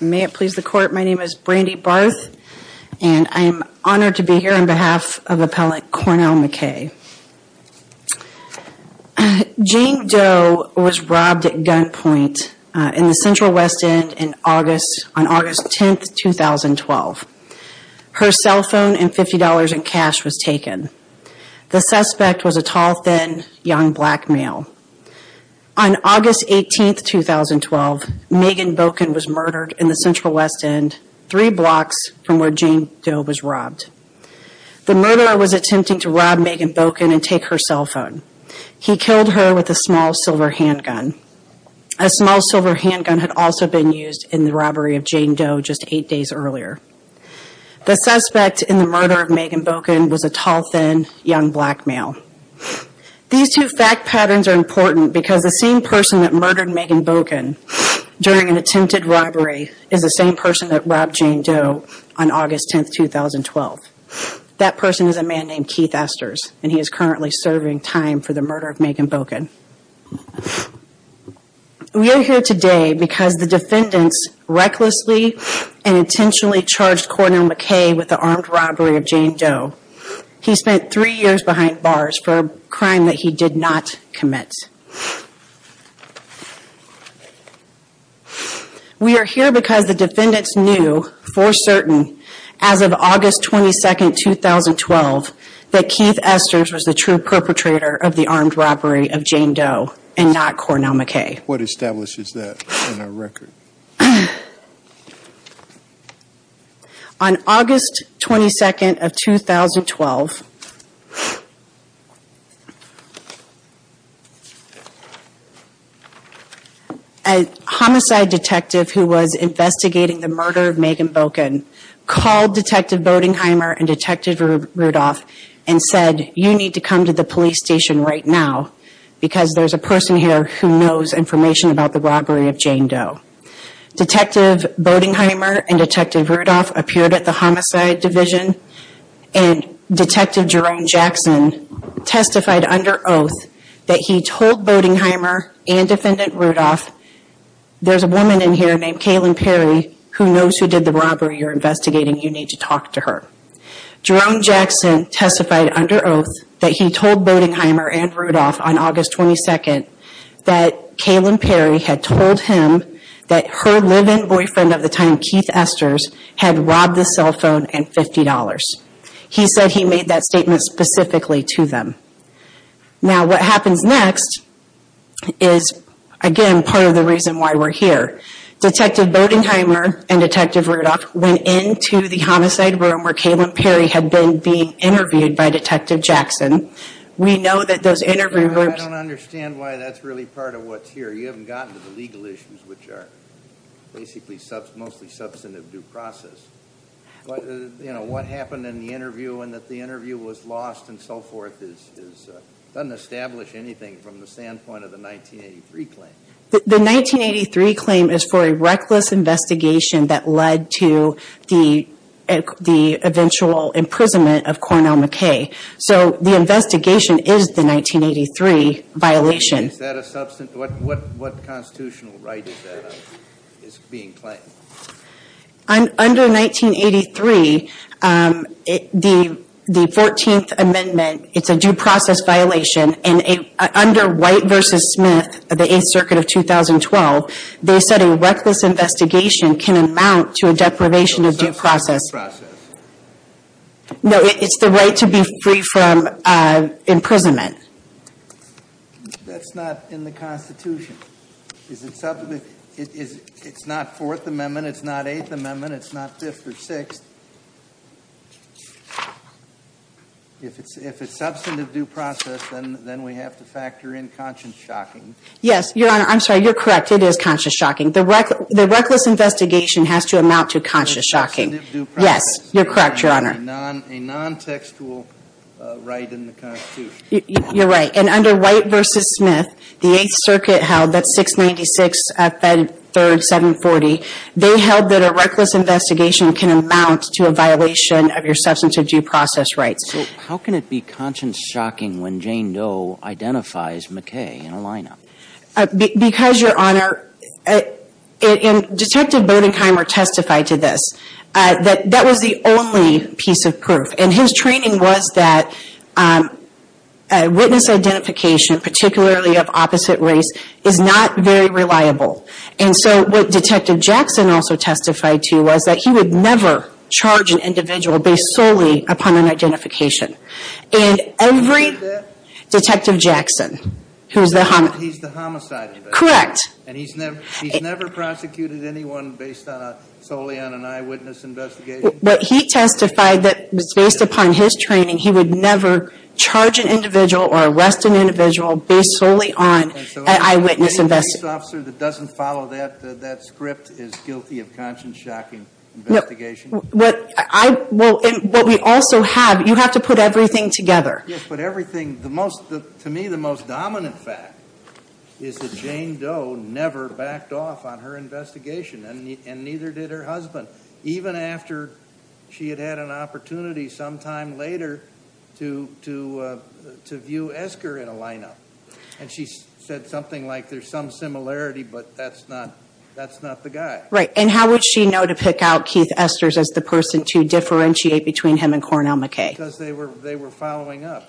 May it please the court my name is Brandy Barth and I am honored to be here on behalf of appellant Cornell McKay. Jean Doe was robbed at gunpoint in the Central West End in August on August 10th 2012. Her cell phone and $50 in cash was taken. The suspect was a tall thin young black male. On August 18th 2012 Megan Bokin was murdered in the Central West End three blocks from where Jean Doe was robbed. The murderer was attempting to rob Megan Bokin and take her cell phone. He killed her with a small silver handgun. A small silver handgun had also been used in the robbery of Jean Doe just eight days earlier. The suspect in the murder of Megan Bokin was a tall thin young black male. These two fact patterns are important because the same person that murdered Megan Bokin during an attempted robbery is the same person that robbed Jean Doe on August 10th 2012. That person is a man named Keith Esters and he is currently serving time for the murder of Megan Bokin. We are here today because the defendants recklessly and intentionally charged Cornell McKay with the armed robbery of Jean Doe. He spent three years behind bars for a crime that he did not commit. We are here because the defendants knew for certain as of August 22nd 2012 that Keith Esters was the true perpetrator of the armed robbery of Jean Doe and not Cornell McKay. What establishes that in our record? On August 22nd of 2012, a homicide detective who was investigating the murder of Megan Bokin called Detective Bodenheimer and Detective Rudolph and said you need to come to the police station right now because there's a Detective Bodenheimer and Detective Rudolph appeared at the homicide division and Detective Jerome Jackson testified under oath that he told Bodenheimer and Defendant Rudolph, there's a woman in here named Kalen Perry who knows who did the robbery you're investigating. You need to talk to her. Jerome Jackson testified under oath that he told Bodenheimer and Rudolph on her live-in boyfriend of the time Keith Esters had robbed the cell phone and $50. He said he made that statement specifically to them. Now what happens next is again part of the reason why we're here. Detective Bodenheimer and Detective Rudolph went into the homicide room where Kalen Perry had been being interviewed by Detective Jackson. We know that those interviewees. I don't understand why that's really part of what's here you haven't gotten to the basically substantive, mostly substantive due process. You know what happened in the interview and that the interview was lost and so forth is doesn't establish anything from the standpoint of the 1983 claim. The 1983 claim is for a reckless investigation that led to the the eventual imprisonment of Cornell McKay. So the investigation is the 1983 violation. Is that a substantive, what constitutional right is that is being claimed? Under 1983, the 14th amendment, it's a due process violation and under White v. Smith of the 8th Circuit of 2012, they said a reckless investigation can amount to a deprivation of due process. No it's the right to be free from imprisonment. That's not in the Constitution. It's not Fourth Amendment, it's not Eighth Amendment, it's not Fifth or Sixth. If it's if it's substantive due process and then we have to factor in conscious shocking. Yes your honor I'm sorry you're correct it is conscious shocking. The reckless investigation has to amount to conscious shocking. Yes you're correct your honor. A non-textual right in the Constitution. You're right and under White v. Smith, the 8th Circuit held that 696 Fed 3rd 740, they held that a reckless investigation can amount to a violation of your substantive due process rights. So how can it be conscious shocking when Jane Doe identifies McKay in a lineup? Because your honor, Detective Bodenheimer testified to this. That was the only piece of proof and his training was that witness identification particularly of opposite race is not very reliable. And so what Detective Jackson also testified to was that he would never charge an individual based solely upon an identification. And every Detective Jackson who's the homicide correct and he's never he's never prosecuted anyone based on solely on an eyewitness investigation. But he testified that was based upon his training. He would never charge an individual or arrest an individual based solely on an eyewitness investigation. So any police officer that doesn't follow that that script is guilty of conscious shocking investigation? What we also have you have to put everything together. Yes but everything the most to me the most dominant fact is that Jane Doe never backed off on her investigation and neither did her husband. Even after she had had an opportunity sometime later to to to view Esker in a lineup. And she said something like there's some similarity but that's not that's not the guy. Right and how would she know to pick out Keith Esters as the person to differentiate between him and Cornell McKay? Because they were they were following up.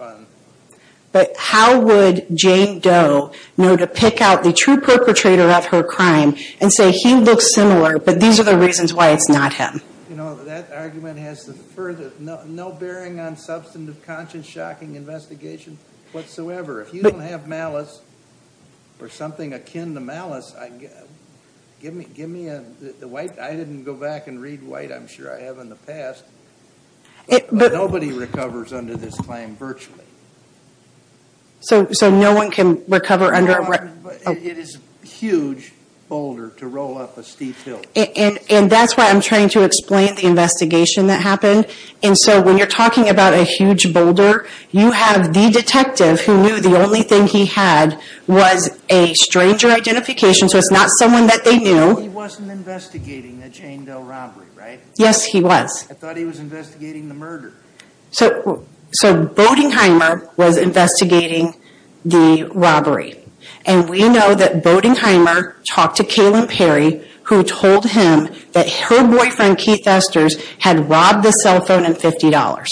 But how would Jane Doe know to pick out the true perpetrator of her crime and say he looks similar but these are the reasons why it's not him? No bearing on substantive conscious shocking investigation whatsoever. If you don't have malice or something akin to malice I get give me give me a the white I didn't go back and read white I'm sure I have in the past. Nobody recovers under this claim virtually. So so no one can recover under. It is huge boulder to roll up a steep hill. And and that's why I'm trying to explain the investigation that happened. And so when you're talking about a huge boulder you have the detective who knew the only thing he had was a stranger identification so it's not someone that they knew. He wasn't investigating the Jane Doe robbery right? Yes he was. I thought he was investigating the murder. So so Boedingheimer was investigating the robbery and we know that Boedingheimer talked to Kaylin Perry who told him that her boyfriend Keith Esters had robbed the cell phone and $50.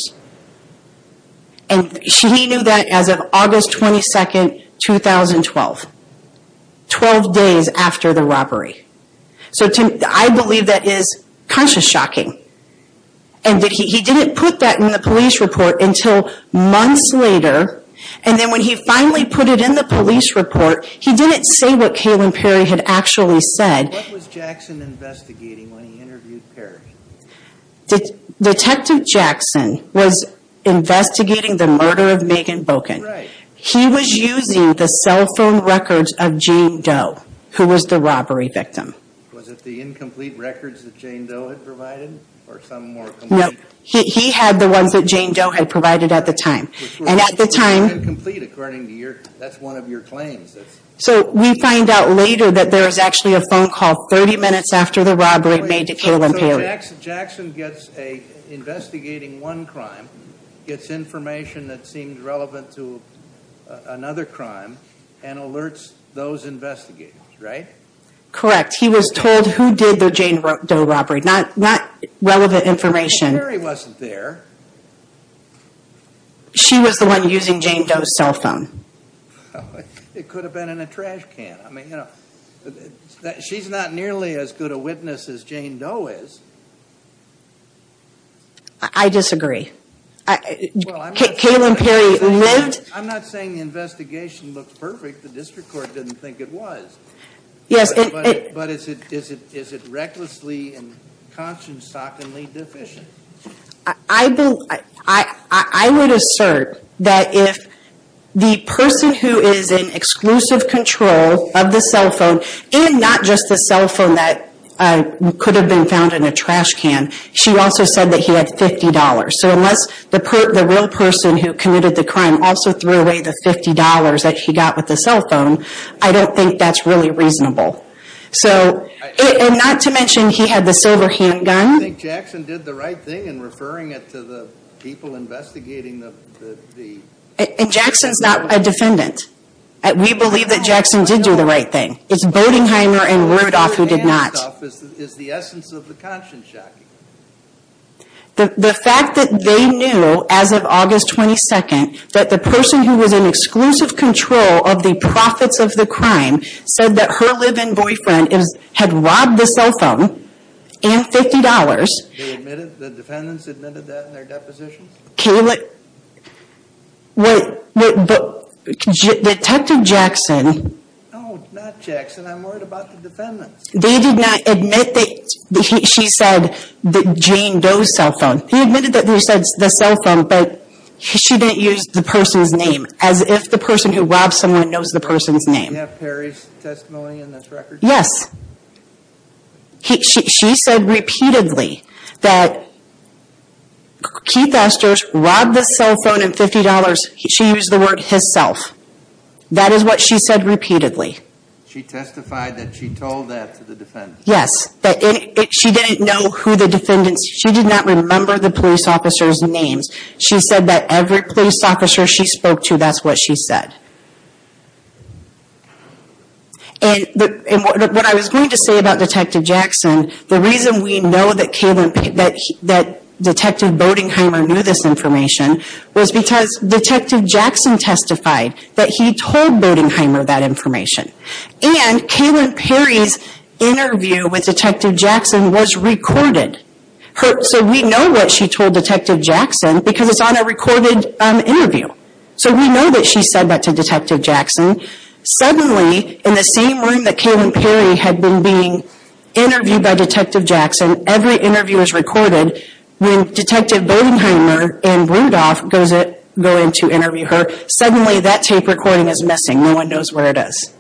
And she knew that as of August 22nd 2012. Twelve days after the robbery. So I believe that is conscious shocking. And that he didn't put that in the police report until months later. And then when he finally put it in the police report he didn't say what Kaylin Perry had actually said. What was Jackson investigating when he interviewed Perry? Detective Jackson was investigating the murder of Megan Doe who was the robbery victim. Was it the incomplete records that Jane Doe had provided? Or some more complete? No he had the ones that Jane Doe had provided at the time. And at the time. Incomplete according to your that's one of your claims. So we find out later that there is actually a phone call 30 minutes after the robbery made to Kaylin Perry. So Jackson gets a investigating one crime gets information that seemed Correct. He was told who did the Jane Doe robbery. Not relevant information. Kaylin Perry wasn't there. She was the one using Jane Doe's cell phone. It could have been in a trash can. I mean you know she's not nearly as good a witness as Jane Doe is. I disagree. Kaylin Perry lived. I'm not saying the investigation looks perfect. The district court didn't think it was. Yes. But is it is it is it recklessly and consciously deficient? I believe I would assert that if the person who is in exclusive control of the cell phone and not just the cell phone that could have been found in a trash can. She also said that he had $50. So unless the person the real person who committed the crime also threw away the $50 that she got with the cell phone. I don't think that's really reasonable. So and not to mention he had the silver handgun. I think Jackson did the right thing in referring it to the people investigating the. And Jackson's not a defendant. We believe that Jackson did do the right thing. It's Bodingheimer and Rudolph who did not. The fact that they knew as of August 22nd that the person who was in exclusive control of the profits of the crime said that her live-in boyfriend is had robbed the cell phone and $50. The defendants admitted that in their depositions? Kaylin. Detective Jackson. No, not Jackson. I'm worried about the defendants. They did not admit that she said that Jane Doe's cell phone. He admitted that they said the cell phone, but she didn't use the person's name as if the person who robbed someone knows the person's name. Do you have Perry's testimony in this record? Yes. She said repeatedly that Keith Esther's robbed the cell phone and $50. She used the word his self. That is what she said repeatedly. She testified that she told that to the defendants. Yes. She didn't know who the defendants. She did not remember the police officer's names. She said that every police officer she spoke to, that's what she said. What I was going to say about Detective Jackson, the reason we know that Detective Bodingheimer knew this information was because Detective Jackson testified that he told Bodingheimer that information. And Kaylin Perry's interview with Detective Jackson was recorded. So we know what she told Detective Jackson because it's on a recorded interview. So we know that she said that to Detective Jackson. Suddenly, in the same room that Kaylin Perry had been being interviewed by Detective Jackson, every interview is recorded. When Detective Bodingheimer and Rudolph go in to interview her, suddenly that tape recording is missing. No one knows where it is.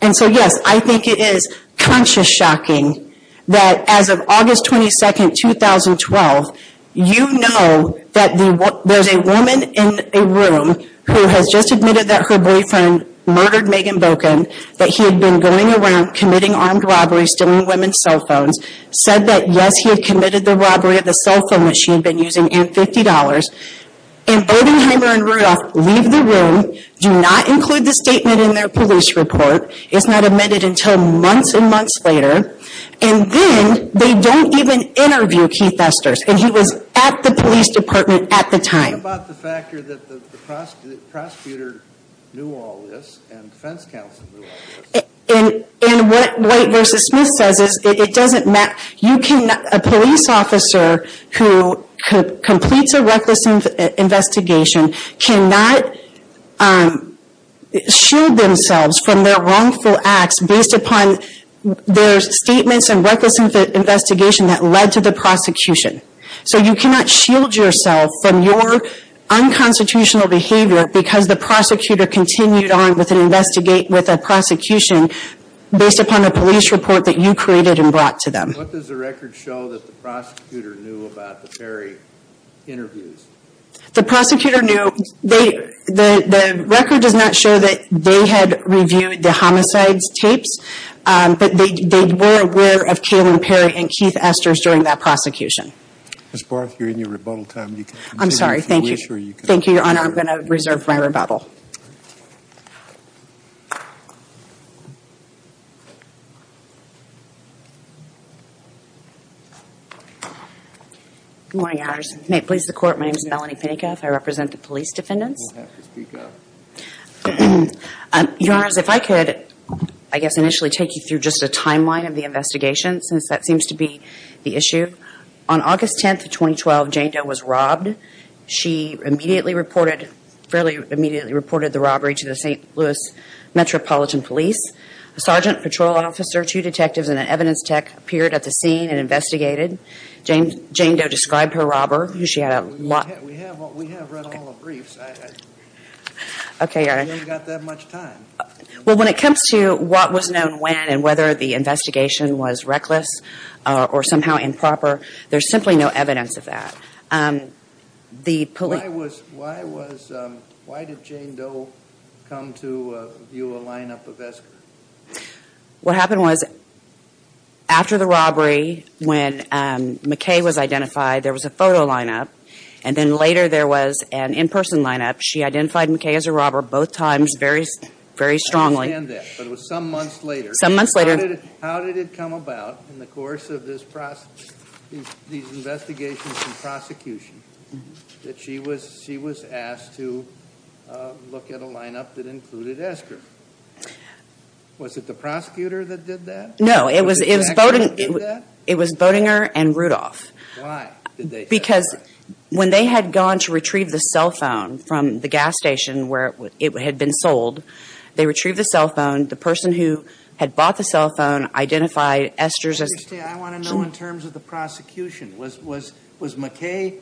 And so, yes, I think it is conscious shocking that as of August 22, 2012, you know that there's a woman in a room who has just admitted that her boyfriend murdered Megan Bokin, that he had been going around committing armed robberies, stealing women's cell phones, said that, yes, he had committed the robbery of the cell phone that she had been using and $50. And Bodingheimer and Rudolph leave the room, do not include the statement in their police report. It's not amended until months and months later. And then, they don't even interview Keith Esters. And he was at the police department at the time. How about the factor that the prosecutor knew all this and defense counsel knew all this? And what White v. Smith says is, it doesn't matter. A police officer who completes a reckless investigation cannot shield themselves from their wrongful acts based upon their statements and reckless investigation that led to the prosecution. So, you cannot shield yourself from your unconstitutional behavior because the prosecutor continued on with an investigation based upon a police report that you created and brought to them. What does the record show that the prosecutor knew about the Perry interviews? The prosecutor knew, the record does not show that they had reviewed the homicides tapes, but they were aware of Kaylin Perry and Keith Esters during that prosecution. Ms. Barth, you're in your rebuttal time. You can continue. I'm sorry. Thank you. We're sure you can. Thank you, Your Honor. I'm going to reserve my rebuttal. Good morning, Your Honors. May it please the Court, my name is Melanie Penica. I represent the police defendants. You don't have to speak up. Your Honors, if I could, I guess, initially take you through just a timeline of the investigation since that seems to be the issue. On August 10th of 2012, Jane Doe was robbed. She immediately reported the robbery to the St. Louis Metropolitan Police. A sergeant, patrol officer, two detectives and an evidence tech appeared at the scene and investigated. Jane Doe described her robber. We have read all the briefs. We haven't got that much time. When it comes to what was known when and whether the investigation was reckless or somehow Why did Jane Doe come to view a line-up of Esker? What happened was, after the robbery, when McKay was identified, there was a photo line-up, and then later there was an in-person line-up. She identified McKay as a robber both times very strongly. I understand that, but it was some months later. Some months later. How did it come about, in the course of these investigations and prosecution, that she was asked to look at a line-up that included Esker? Was it the prosecutor that did that? No, it was Bodinger and Rudolph. Why did they say that? Because when they had gone to retrieve the cell phone from the gas station where it had been sold, they retrieved the cell phone. The person who had bought the cell phone identified Esker as a robber. I want to know, in terms of the prosecution, was McKay...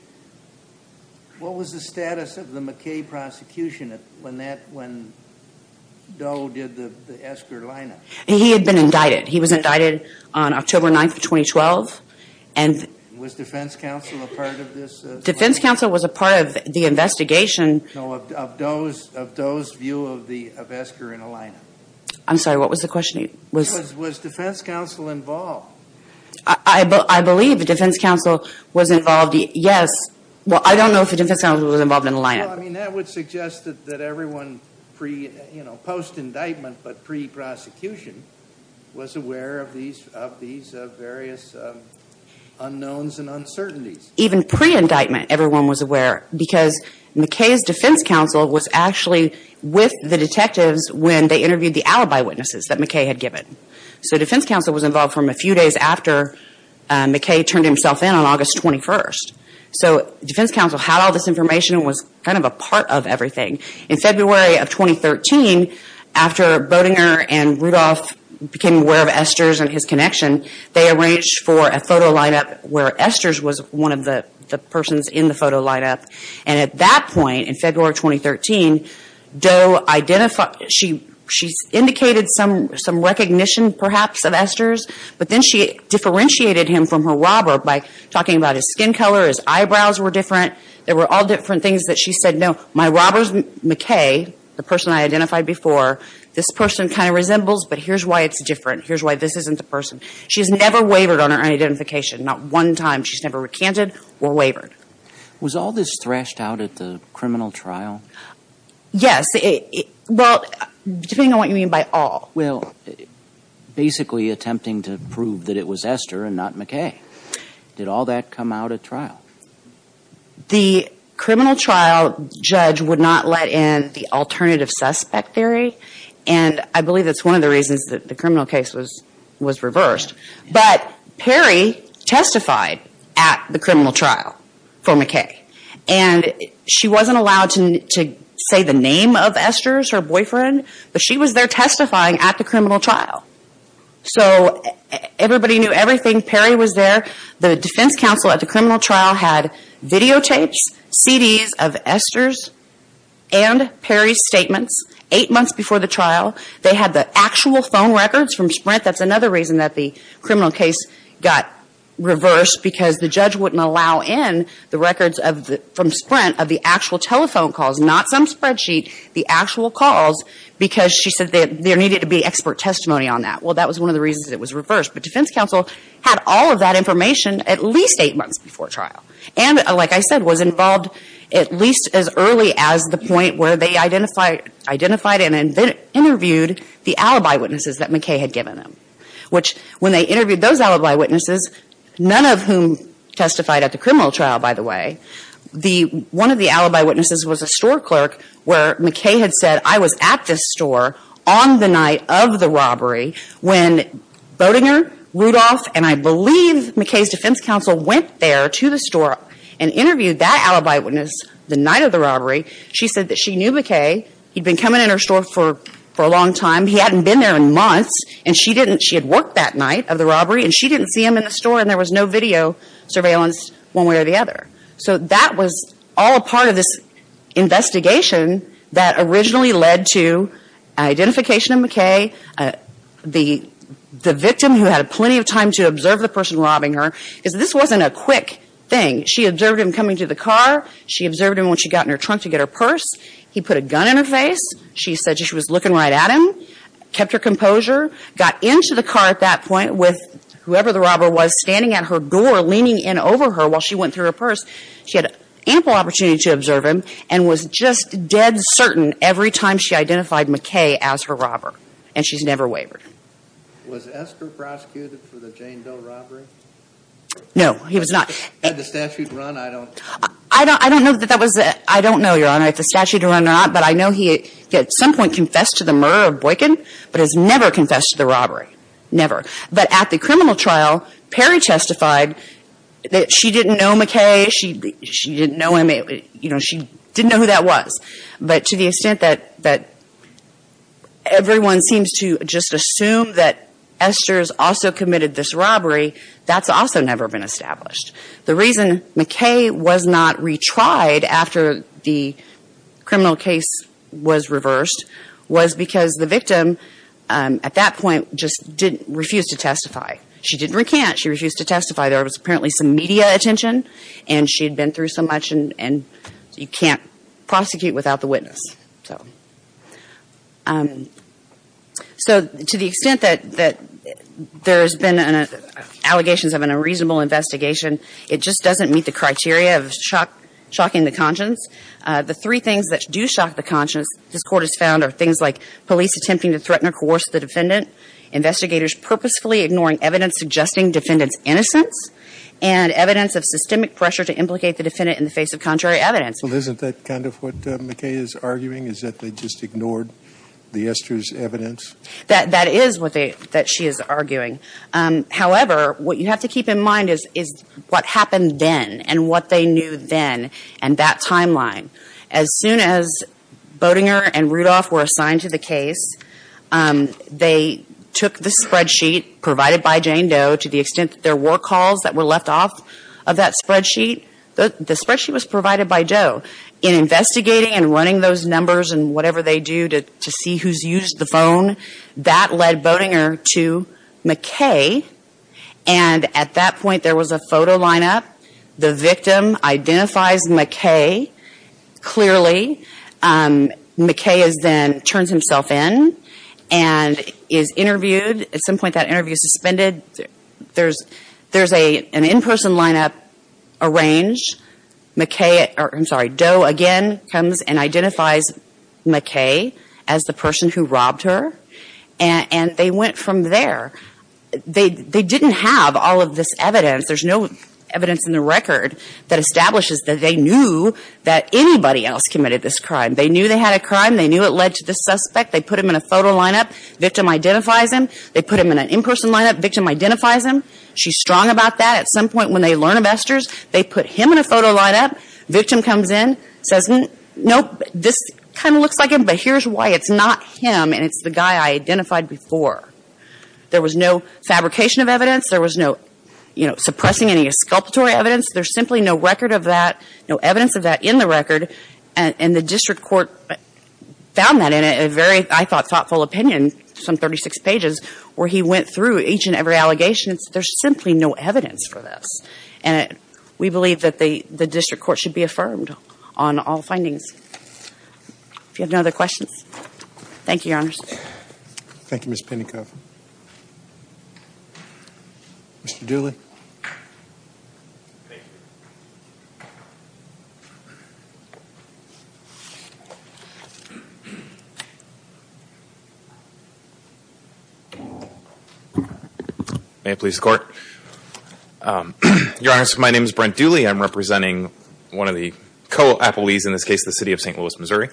What was the status of the McKay prosecution when Doe did the Esker line-up? He had been indicted. He was indicted on October 9, 2012. Was Defense Counsel a part of this? No, of Doe's view of Esker in a line-up. I'm sorry, what was the question? Was Defense Counsel involved? I believe Defense Counsel was involved. Yes. Well, I don't know if Defense Counsel was involved in the line-up. That would suggest that everyone, post-indictment but pre-prosecution, was aware of these various unknowns and uncertainties. Even pre-indictment, everyone was aware because McKay's Defense Counsel was actually with the detectives when they interviewed the alibi witnesses that McKay had given. So Defense Counsel was involved from a few days after McKay turned himself in on August 21st. So Defense Counsel had all this information and was kind of a part of everything. In February of 2013, after Bodinger and Rudolph became aware of Esker's and his connection, they arranged for a photo line-up where Esker's was one of the persons in the photo line-up. And at that point, in February of 2013, Doe identified, she indicated some recognition perhaps of Esker's, but then she differentiated him from her robber by talking about his skin color, his eyebrows were different. There were all different things that she said, no, my robber's McKay, the person I identified before, this person kind of resembles, but here's why it's different. Here's why this isn't the person. She's never wavered on her identification. Not one time she's never recanted or wavered. Was all this thrashed out at the criminal trial? Yes. Well, depending on what you mean by all. Well, basically attempting to prove that it was Esker and not McKay. Did all that come out at trial? The criminal trial judge would not let in the alternative suspect theory, and I believe that's one of the reasons that the criminal case was reversed. But Perry testified at the criminal trial for McKay, and she wasn't allowed to say the name of Esker's, her boyfriend, but she was there testifying at the criminal trial. So everybody knew everything. Perry was there. The defense counsel at the criminal trial had videotapes, CDs of Esker's and Perry's statements eight months before the trial. They had the actual phone records from Sprint. That's another reason that the criminal case got reversed, because the judge wouldn't allow in the records from Sprint of the actual telephone calls, not some spreadsheet, the actual calls, because she said there needed to be expert testimony on that. Well, that was one of the reasons it was reversed. But defense counsel had all of that information at least eight months before trial and, like I said, was involved at least as early as the point where they identified and interviewed the alibi witnesses that McKay had given them, which when they interviewed those alibi witnesses, none of whom testified at the criminal trial, by the way, one of the alibi witnesses was a store clerk where McKay had said, I was at this store on the night of the robbery when Boedinger, Rudolph, and I believe McKay's defense counsel went there to the store and interviewed that alibi witness the night of the robbery. She said that she knew McKay. He'd been coming in her store for a long time. He hadn't been there in months, and she had worked that night of the robbery, and she didn't see him in the store, and there was no video surveillance one way or the other. So that was all a part of this investigation that originally led to identification of McKay. The victim, who had plenty of time to observe the person robbing her, is this wasn't a quick thing. She observed him coming to the car. She observed him when she got in her trunk to get her purse. He put a gun in her face. She said she was looking right at him, kept her composure, got into the car at that point with whoever the robber was standing at her door leaning in over her while she went through her purse. She had ample opportunity to observe him and was just dead certain every time she identified McKay as her robber, and she's never wavered. Was Esker prosecuted for the Jane Doe robbery? No, he was not. Had the statute run, I don't know. I don't know, Your Honor, if the statute had run or not, but I know he at some point confessed to the murder of Boykin, but has never confessed to the robbery, never. But at the criminal trial, Perry testified that she didn't know McKay. She didn't know him. She didn't know who that was. But to the extent that everyone seems to just assume that Esker's also committed this robbery, that's also never been established. The reason McKay was not retried after the criminal case was reversed was because the victim at that point just refused to testify. She didn't recant. She refused to testify. There was apparently some media attention, and she had been through so much, and you can't prosecute without the witness. So to the extent that there has been allegations of an unreasonable investigation, it just doesn't meet the criteria of shocking the conscience. The three things that do shock the conscience, this Court has found, are things like police attempting to threaten or coerce the defendant, investigators purposefully ignoring evidence suggesting defendant's innocence, and evidence of systemic pressure to implicate the defendant in the face of contrary evidence. Well, isn't that kind of what McKay is arguing, is that they just ignored the Esker's evidence? That is what she is arguing. However, what you have to keep in mind is what happened then and what they knew then and that timeline. As soon as Boedinger and Rudolph were assigned to the case, they took the spreadsheet provided by Jane Doe to the extent that there were calls that were left off of that spreadsheet. The spreadsheet was provided by Doe. In investigating and running those numbers and whatever they do to see who has used the phone, that led Boedinger to McKay, and at that point there was a photo lineup. The victim identifies McKay clearly. McKay then turns himself in and is interviewed. At some point that interview is suspended. There is an in-person lineup arranged. Doe again comes and identifies McKay as the person who robbed her, and they went from there. They didn't have all of this evidence. There is no evidence in the record that establishes that they knew that anybody else committed this crime. They knew they had a crime. They knew it led to this suspect. They put him in a photo lineup. The victim identifies him. They put him in an in-person lineup. The victim identifies him. She is strong about that. At some point when they learn of Esker's, they put him in a photo lineup. The victim comes in and says, nope, this kind of looks like him, but here is why. It is not him, and it is the guy I identified before. There was no fabrication of evidence. There was no suppressing any exculpatory evidence. There is simply no record of that, no evidence of that in the record. And the district court found that in a very, I thought, thoughtful opinion, some 36 pages, where he went through each and every allegation. There is simply no evidence for this. And we believe that the district court should be affirmed on all findings. If you have no other questions, thank you, Your Honors. Thank you, Ms. Pinnicoff. Mr. Dooley. Thank you. May it please the Court. Your Honors, my name is Brent Dooley. I am representing one of the co-appellees in this case, the City of St. Louis, Missouri.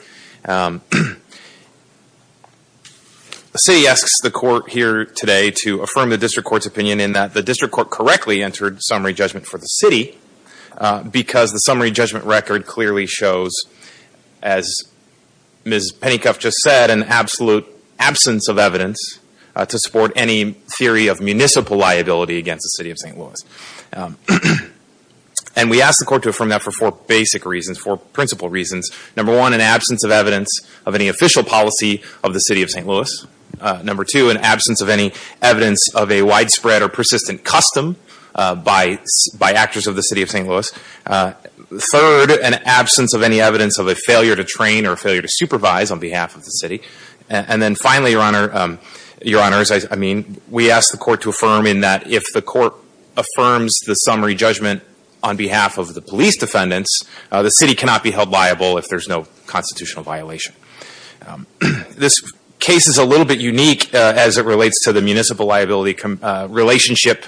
The City asks the Court here today to affirm the district court's opinion in that the district court correctly entered summary judgment for the City because the summary judgment record clearly shows, as Ms. Pinnicoff just said, an absolute absence of evidence to support any theory of municipal liability against the City of St. Louis. And we ask the Court to affirm that for four basic reasons, four principal reasons. Number one, an absence of evidence of any official policy of the City of St. Louis. Number two, an absence of any evidence of a widespread or persistent custom by actors of the City of St. Louis. Third, an absence of any evidence of a failure to train or a failure to supervise on behalf of the City. And then finally, Your Honors, I mean, we ask the Court to affirm in that if the Court affirms the summary judgment on behalf of the police defendants, the City cannot be held liable if there's no constitutional violation. This case is a little bit unique as it relates to the municipal liability relationship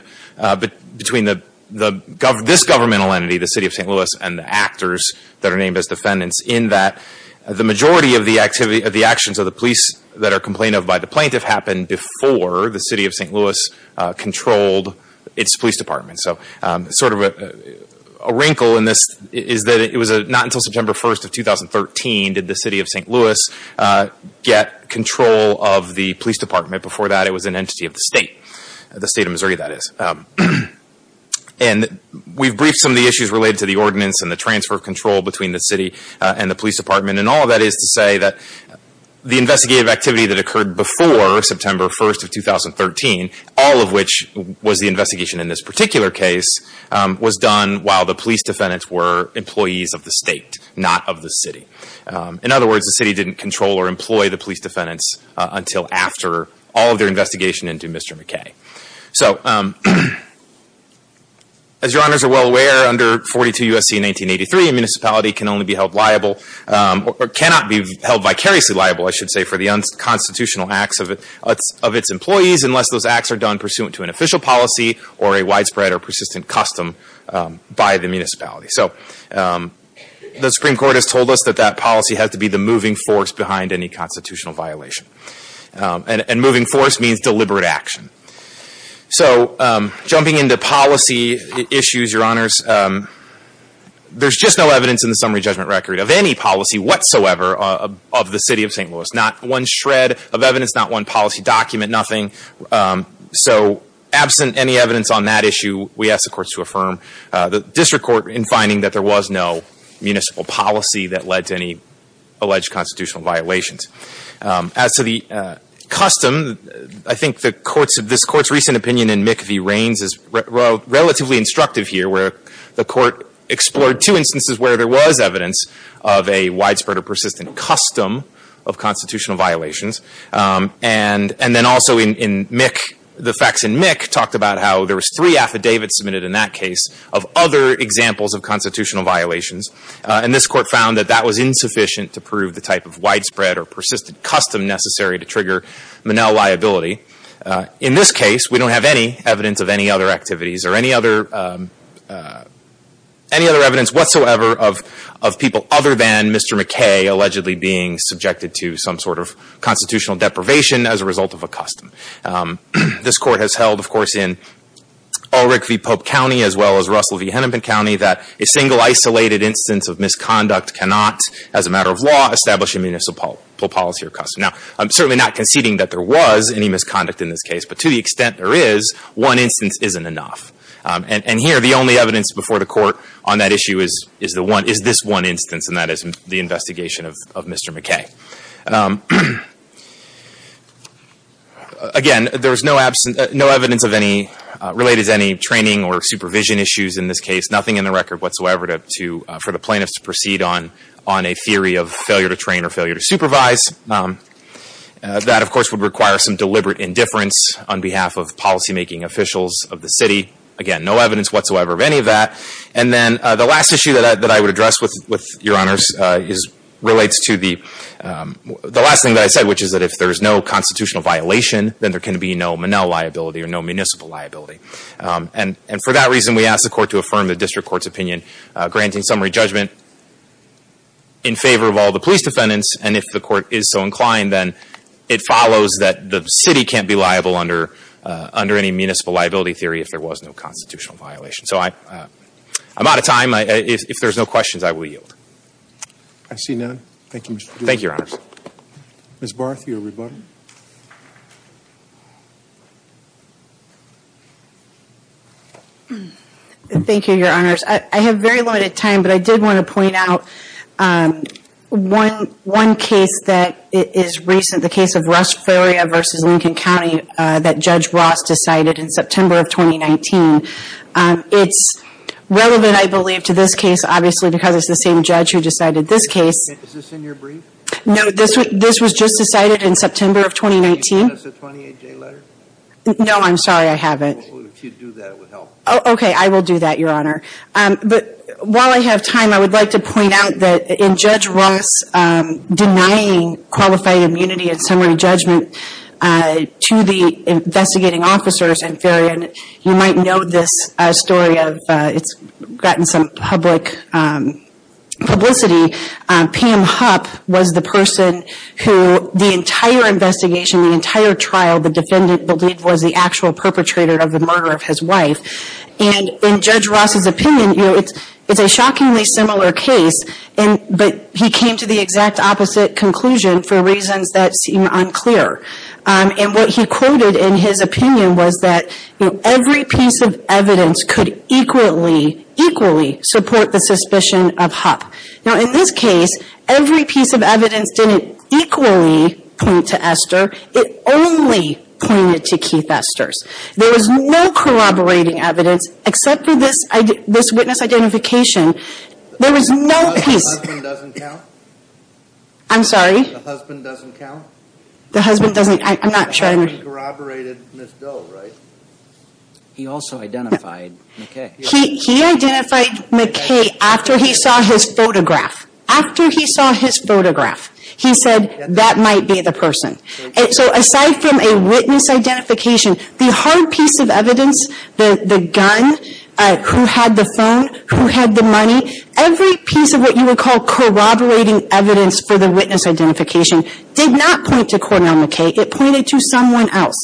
between this governmental entity, the City of St. Louis, and the actors that are named as defendants in that the majority of the actions of the police that are complained of by the plaintiff happened before the City of St. Louis controlled its police department. So sort of a wrinkle in this is that it was not until September 1st of 2013 did the City of St. Louis get control of the police department. Before that, it was an entity of the State, the State of Missouri, that is. And we've briefed some of the issues related to the ordinance and the transfer of control between the City and the police department. And all of that is to say that the investigative activity that occurred before September 1st of 2013, all of which was the investigation in this particular case, was done while the police defendants were employees of the State, not of the City. In other words, the City didn't control or employ the police defendants until after all of their investigation into Mr. McKay. So as Your Honors are well aware, under 42 U.S.C. 1983, a municipality can only be held liable or cannot be held vicariously liable, I should say, for the unconstitutional acts of its employees unless those acts are done pursuant to an official policy or a widespread or persistent custom by the municipality. So the Supreme Court has told us that that policy has to be the moving force behind any constitutional violation. And moving force means deliberate action. So jumping into policy issues, Your Honors, there's just no evidence in the summary judgment record of any policy whatsoever of the City of St. Louis. Not one shred of evidence, not one policy document, nothing. So absent any evidence on that issue, we ask the courts to affirm the district court in finding that there was no municipal policy that led to any alleged constitutional violations. As to the custom, I think this Court's recent opinion in McVie-Raines is relatively instructive here where the Court explored two instances where there was evidence of a widespread or persistent custom of constitutional violations. And then also in Mick, the facts in Mick talked about how there was three affidavits submitted in that case of other examples of constitutional violations. And this Court found that that was insufficient to prove the type of widespread or persistent custom necessary to trigger Monell liability. In this case, we don't have any evidence of any other activities or any other evidence whatsoever of people other than Mr. McKay allegedly being subjected to some sort of constitutional deprivation as a result of a custom. This Court has held, of course, in Ulrich v. Pope County as well as Russell v. Hennepin County that a single isolated instance of misconduct cannot, as a matter of law, establish a municipal policy or custom. Now, I'm certainly not conceding that there was any misconduct in this case, but to the extent there is, one instance isn't enough. And here, the only evidence before the Court on that issue is this one instance, and that is the investigation of Mr. McKay. Again, there is no evidence related to any training or supervision issues in this case, nothing in the record whatsoever for the plaintiffs to proceed on a theory of failure to train or failure to supervise. That, of course, would require some deliberate indifference on behalf of policymaking officials of the city. Again, no evidence whatsoever of any of that. And then the last issue that I would address with Your Honors relates to the last thing that I said, which is that if there is no constitutional violation, then there can be no Monell liability or no municipal liability. And for that reason, we ask the Court to affirm the district court's opinion, granting summary judgment in favor of all the police defendants, and if the Court is so inclined, then it follows that the city can't be liable under any municipal liability theory if there was no constitutional violation. So I'm out of time. If there's no questions, I will yield. I see none. Thank you, Mr. Duda. Thank you, Your Honors. Ms. Barth, your rebuttal. Thank you, Your Honors. I have very limited time, but I did want to point out one case that is recent, the case of Russ Floria v. Lincoln County that Judge Ross decided in September of 2019. It's relevant, I believe, to this case, obviously, because it's the same judge who decided this case. Is this in your brief? No, this was just decided in September of 2019. Did you send us a 28-day letter? No, I'm sorry. I haven't. Well, if you'd do that, it would help. Okay, I will do that, Your Honor. But while I have time, I would like to point out that in Judge Ross denying qualified immunity and summary judgment to the investigating officers in Farrion, you might know this story of it's gotten some public publicity. Pam Hupp was the person who the entire investigation, the entire trial, the defendant believed was the actual perpetrator of the murder of his wife. And in Judge Ross's opinion, it's a shockingly similar case, but he came to the exact opposite conclusion for reasons that seem unclear. And what he quoted in his opinion was that every piece of evidence could equally, equally support the suspicion of Hupp. Now, in this case, every piece of evidence didn't equally point to Esther. It only pointed to Keith Esther's. There was no corroborating evidence except for this witness identification. There was no piece. The husband doesn't count? I'm sorry? The husband doesn't count? The husband doesn't. I'm not sure. The husband corroborated Ms. Doe, right? He also identified McKay. He identified McKay after he saw his photograph. After he saw his photograph, he said that might be the person. And so aside from a witness identification, the hard piece of evidence, the gun, who had the phone, who had the money, every piece of what you would call corroborating evidence for the witness identification did not point to Cornell McKay. It pointed to someone else.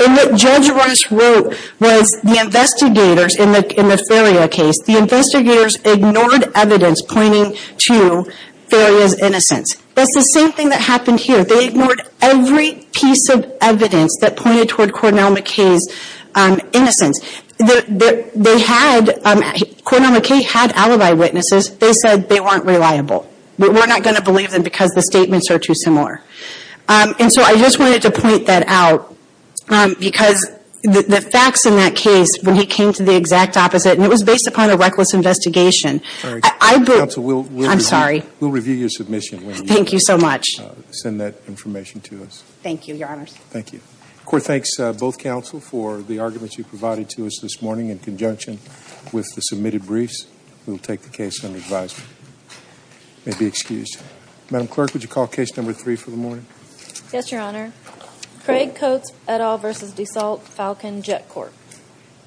And what Judge Ross wrote was the investigators in the Feria case, the investigators ignored evidence pointing to Feria's innocence. That's the same thing that happened here. They ignored every piece of evidence that pointed toward Cornell McKay's innocence. They had, Cornell McKay had alibi witnesses. They said they weren't reliable. We're not going to believe them because the statements are too similar. And so I just wanted to point that out because the facts in that case, when he came to the exact opposite, and it was based upon a reckless investigation, I believe. I'm sorry. We'll review your submission. Thank you so much. Send that information to us. Thank you, Your Honors. Thank you. The Court thanks both counsel for the arguments you provided to us this morning We will take the case under advisement. You may be excused. Madam Clerk, would you call case number three for the morning? Yes, Your Honor. Craig Coates et al. v. DeSalt Falcon Jet Corp.